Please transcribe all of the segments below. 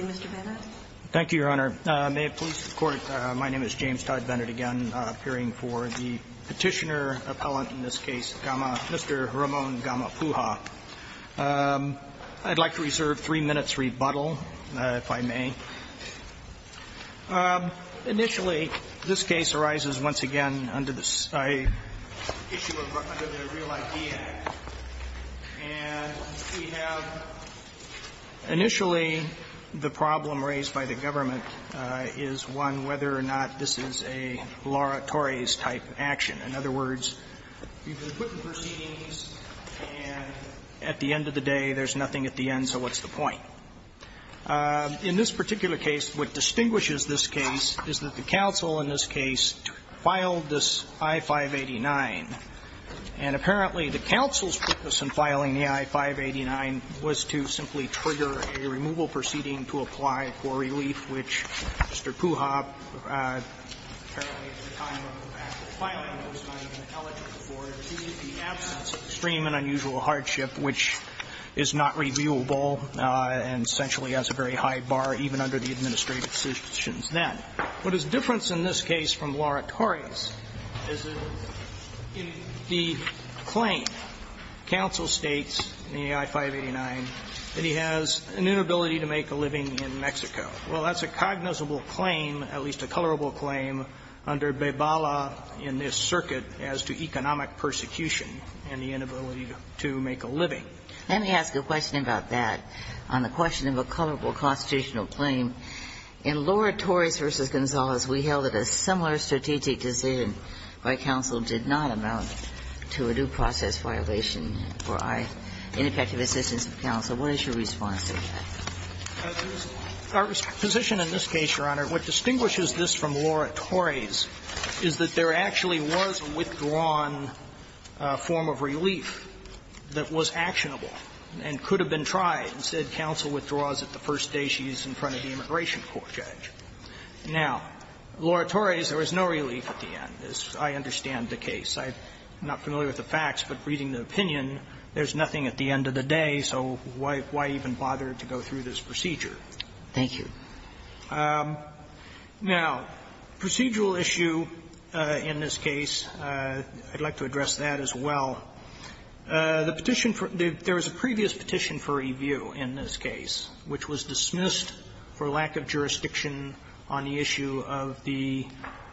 Mr. Bennett. Thank you, Your Honor. May it please the Court, my name is James Todd Bennett, again appearing for the petitioner appellant in this case, Mr. Ramon Gamapuja. I'd like to reserve three minutes rebuttal, if I may. Initially, this case arises once again under the Real ID Act. And we have, initially, the problem raised by the government is one whether or not this is a Laura Torres-type action. In other words, you've been put in proceedings, and at the end of the day, there's nothing at the end, so what's the point? In this particular case, what distinguishes this case is that the counsel in this case filed this I-589, and apparently the counsel's focus in filing the I-589 was to simply trigger a removal proceeding to apply for relief, which Mr. Pugha, apparently at the time of the fact of filing it, was not even eligible for, due to the absence of extreme and unusual hardship, which is not reviewable and essentially has a very high bar, even under the administrative conditions then. What is different in this case from Laura Torres is that in the claim, counsel states in the I-589 that he has an inability to make a living in Mexico. Well, that's a cognizable claim, at least a colorable claim, under Bebala in this circuit as to economic persecution and the inability to make a living. Let me ask a question about that, on the question of a colorable constitutional claim. In Laura Torres v. Gonzalez, we held that a similar strategic decision by counsel did not amount to a due process violation for ineffective assistance of counsel. What is your response to that? Our position in this case, Your Honor, what distinguishes this from Laura Torres is that there actually was a withdrawn form of relief that was actionable and could have been tried. Instead, counsel withdraws it the first day she's in front of the immigration court, Judge. Now, Laura Torres, there was no relief at the end, as I understand the case. I'm not familiar with the facts, but reading the opinion, there's nothing at the end of the day, so why even bother to go through this procedure? Thank you. Now, procedural issue in this case, I'd like to address that as well. The petition for the – there was a previous petition for review in this case, which was dismissed for lack of jurisdiction on the issue of the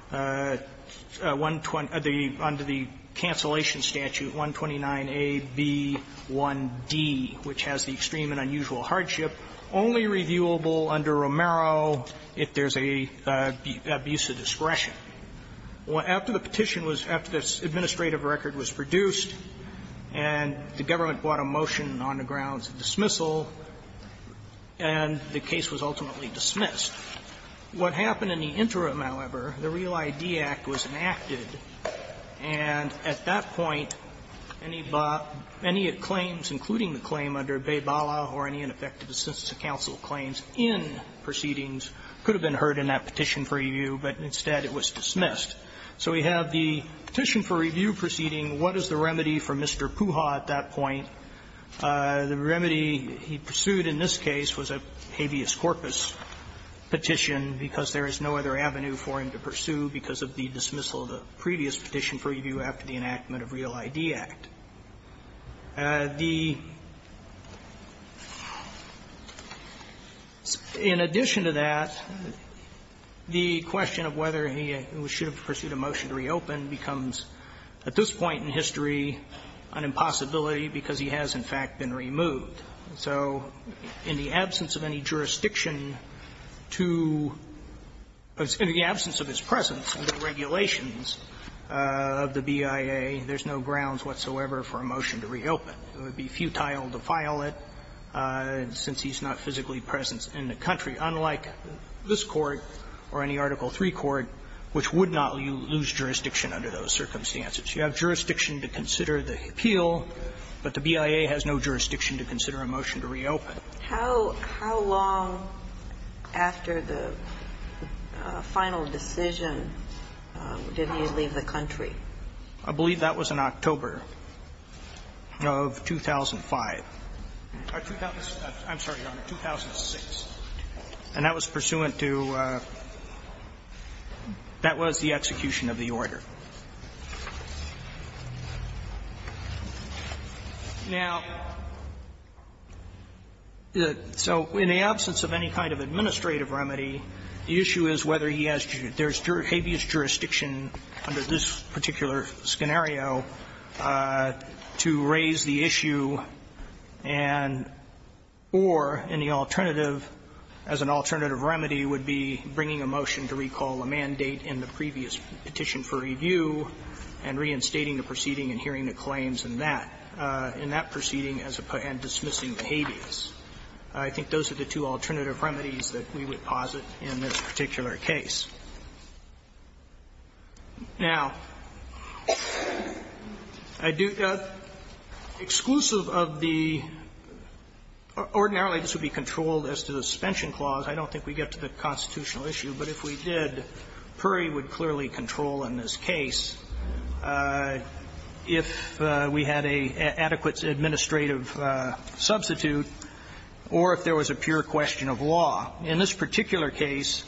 120 – under the Cancellation Statute 129a, b, 1d, which has the extreme and unusual hardship, only reviewable under Romero if there's an abuse of discretion. After the petition was – after this administrative record was produced and the government brought a motion on the grounds of dismissal, and the case was ultimately dismissed, what happened in the interim, however, the Real ID Act was enacted, and at that point, any claims, including the claim under Baybala or any ineffective assistance to counsel claims in proceedings could have been heard in that petition for review, but instead it was dismissed. So we have the petition for review proceeding, what is the remedy for Mr. Puja at that point? The remedy he pursued in this case was a habeas corpus petition because there is no other avenue for him to pursue because of the dismissal of the previous petition for review after the enactment of Real ID Act. The – in addition to that, the question of whether he should have pursued a motion to reopen becomes at this point in history an impossibility because he has, in fact, been removed. So in the absence of any jurisdiction to pursue a motion to reopen, the question is, in the absence of his presence in the regulations of the BIA, there's no grounds whatsoever for a motion to reopen. It would be futile to file it since he's not physically present in the country, unlike this Court or any Article III court, which would not lose jurisdiction under those circumstances. You have jurisdiction to consider the appeal, but the BIA has no jurisdiction to consider a motion to reopen. How long after the final decision did he leave the country? I believe that was in October of 2005. I'm sorry, Your Honor, 2006. And that was pursuant to – that was the execution of the order. Now, so in the absence of any kind of administrative remedy, the issue is whether he has – there's habeas jurisdiction under this particular scenario to raise the issue and – or any alternative, as an alternative remedy, would be bringing a motion to recall a mandate in the previous petition for review and reinstating the proceeding and hearing the claims in that – in that proceeding as a – and dismissing the habeas. I think those are the two alternative remedies that we would posit in this particular case. Now, I do – exclusive of the – ordinarily, this would be controlled as to the suspension clause. I don't think we get to the constitutional issue, but if we did, Puri would clearly control in this case if we had an adequate administrative substitute or if there was a pure question of law. In this particular case,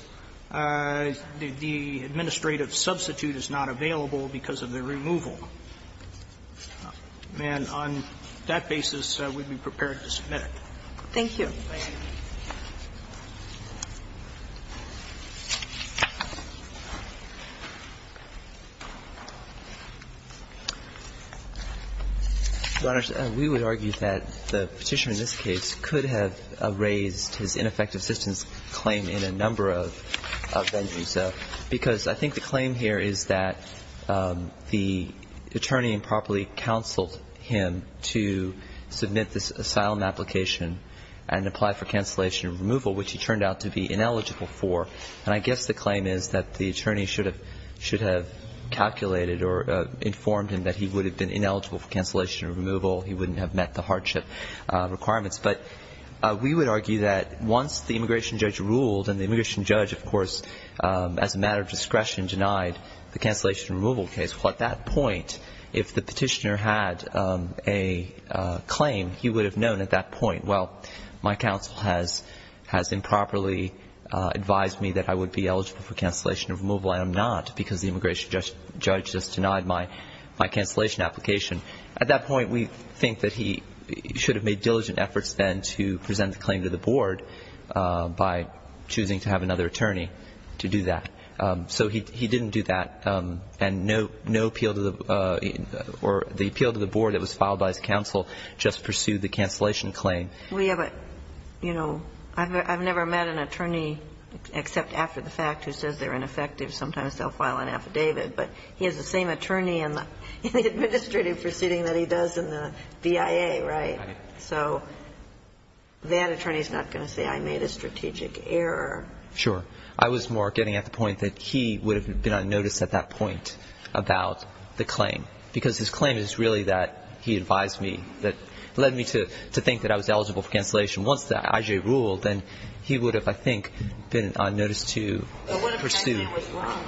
the administrative substitute is not available because of the removal. And on that basis, we'd be prepared to submit it. Thank you. Your Honor, we would argue that the Petitioner in this case could have raised his ineffective assistance claim in a number of venues, because I think the claim here is that the attorney improperly counseled him to submit this asylum application and apply for cancellation and removal, which he turned out to be ineligible for. And I guess the claim is that the attorney should have – should have calculated or informed him that he would have been ineligible for cancellation and removal. He wouldn't have met the hardship requirements. But we would argue that once the immigration judge ruled, and the immigration judge, of course, as a matter of discretion, denied the cancellation and removal case, well, at that point, if the Petitioner had a claim, he would have known at that point. Well, my counsel has improperly advised me that I would be eligible for cancellation and removal. I am not, because the immigration judge just denied my cancellation application. At that point, we think that he should have made diligent efforts then to present the claim to the board by choosing to have another attorney to do that. So he didn't do that. And no appeal to the – or the appeal to the board that was filed by his counsel just pursued the cancellation claim. We have a – you know, I've never met an attorney except after the fact who says they're ineffective. Sometimes they'll file an affidavit. But he has the same attorney in the administrative proceeding that he does in the BIA, right? So that attorney is not going to say I made a strategic error. Sure. I was more getting at the point that he would have been on notice at that point about the claim. Because his claim is really that he advised me, that led me to think that I was eligible for cancellation. Once the IJ ruled, then he would have, I think, been on notice to pursue. But what if I say I was wrong?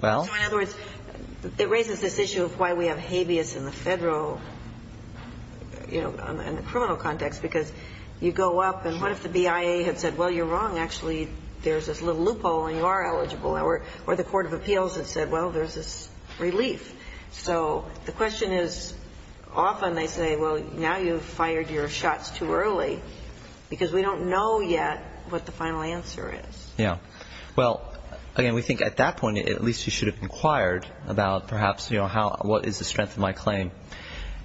Well? So in other words, it raises this issue of why we have habeas in the Federal, you know, in the criminal context, because you go up and what if the BIA had said, well, you're wrong, actually, there's this little loophole and you are eligible, or the court of appeals had said, well, there's this relief. So the question is often they say, well, now you've fired your shots too early because we don't know yet what the final answer is. Yeah. Well, again, we think at that point at least he should have inquired about perhaps, you know, how, what is the strength of my claim.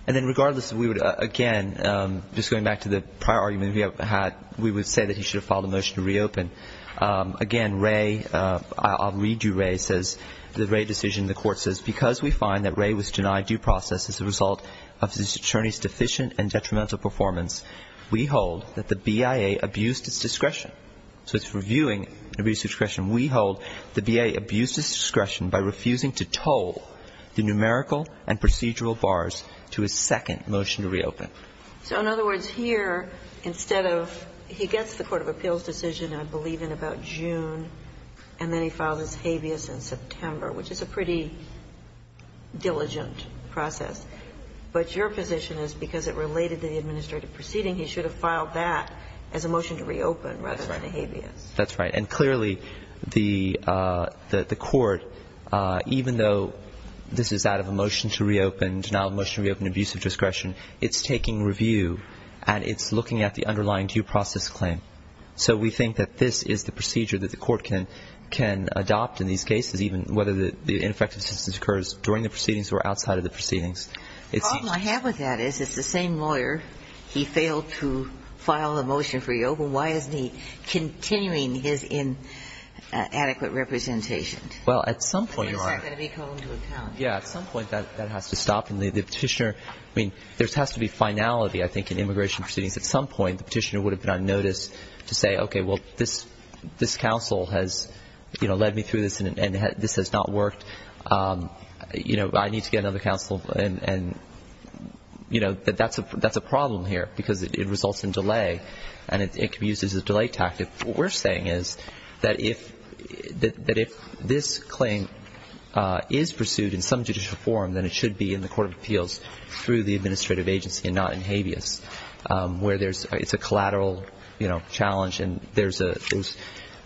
And then regardless, we would, again, just going back to the prior argument we have had, we would say that he should have filed a motion to reopen. Again, Wray, I'll read you Wray says, the Wray decision, the court says, because we find that Wray was denied due process as a result of this attorney's deficient and detrimental performance, we hold that the BIA abused its discretion. So it's reviewing abuse of discretion. We hold the BIA abused its discretion by refusing to toll the numerical and procedural bars to his second motion to reopen. So in other words, here, instead of, he gets the court of appeals decision, I believe in about June, and then he filed his habeas in September, which is a pretty diligent process. But your position is because it related to the administrative proceeding, he should have filed that as a motion to reopen rather than a habeas. That's right, and clearly the court, even though this is out of a motion to reopen, to now motion to reopen abuse of discretion, it's taking review, and it's looking at the underlying due process claim. So we think that this is the procedure that the court can adopt in these cases, even whether the ineffective assistance occurs during the proceedings or outside of the proceedings. The problem I have with that is, it's the same lawyer. He failed to file a motion for reopen. Why isn't he continuing his inadequate representation? Well, at some point, Your Honor, yeah, at some point, that has to stop. And the petitioner, I mean, there has to be finality, I think, in immigration proceedings. At some point, the petitioner would have been on notice to say, okay, well, this counsel has led me through this, and this has not worked. I need to get another counsel, and that's a problem here, because it results in delay, and it can be used as a delay tactic. What we're saying is that if this claim is pursued in some judicial form, then it should be in the Court of Appeals through the administrative agency and not in habeas, where it's a collateral, you know, challenge. And there's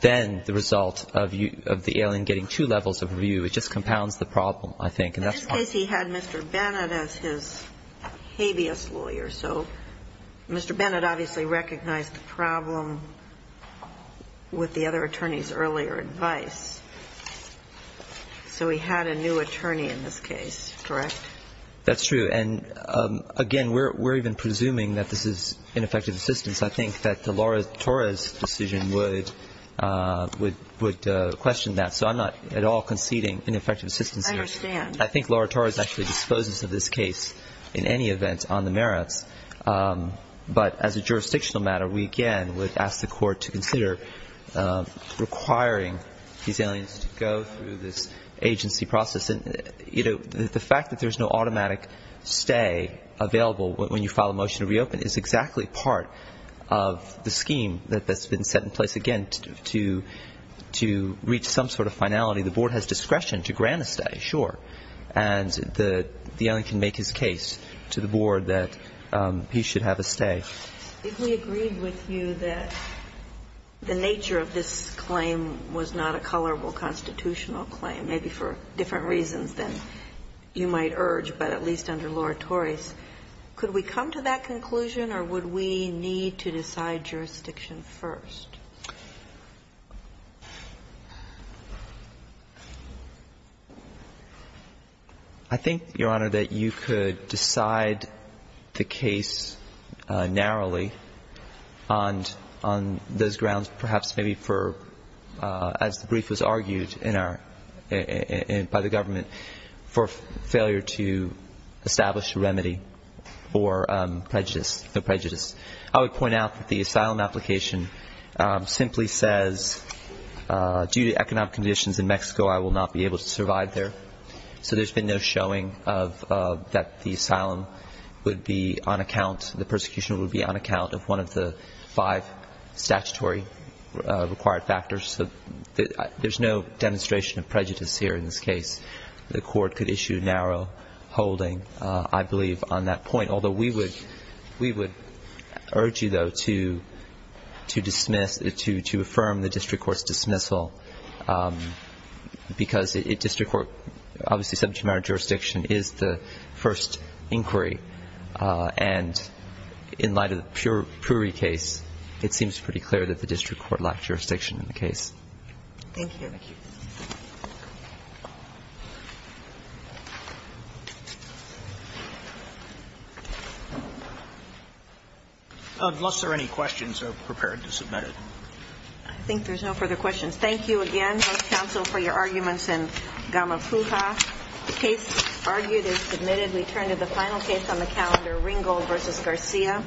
then the result of the alien getting two levels of review. It just compounds the problem, I think. In this case, he had Mr. Bennett as his habeas lawyer. So Mr. Bennett obviously recognized the problem with the other attorney's earlier advice, so he had a new attorney in this case, correct? That's true. And, again, we're even presuming that this is ineffective assistance. I think that the Laura Torres decision would question that. So I'm not at all conceding ineffective assistance here. I understand. I think Laura Torres actually disposes of this case in any event on the merits. But as a jurisdictional matter, we again would ask the Court to consider requiring these aliens to go through this agency process. And, you know, the fact that there's no automatic stay available when you file a motion to reopen is exactly part of the scheme that's been set in place, again, to reach some sort of finality. The Board has discretion to grant a stay, sure. And the alien can make his case to the Board that he should have a stay. We agreed with you that the nature of this claim was not a colorable constitutional claim, maybe for different reasons than you might urge, but at least under Laura Torres. Could we come to that conclusion, or would we need to decide jurisdiction first? I think, Your Honor, that you could decide the case narrowly on those grounds perhaps maybe for, as the brief has argued, in our discussion today, but I think by the government for failure to establish a remedy for prejudice. I would point out that the asylum application simply says, due to economic conditions in Mexico, I will not be able to survive there. So there's been no showing that the asylum would be on account, the persecution would be on account of one of the five statutory required factors. So there's no demonstration of prejudice here in this case. The court could issue narrow holding, I believe, on that point. Although we would urge you, though, to affirm the district court's dismissal because district court, obviously subject matter jurisdiction is the first inquiry. And in light of the Puri case, it seems pretty clear that the district court lacked jurisdiction in the case. Thank you. Thank you. Unless there are any questions, I'm prepared to submit it. I think there's no further questions. Thank you again, House Counsel, for your arguments in Gamapuja. The case argued is submitted. We turn to the final case on the calendar, Ringgold v. Garcia.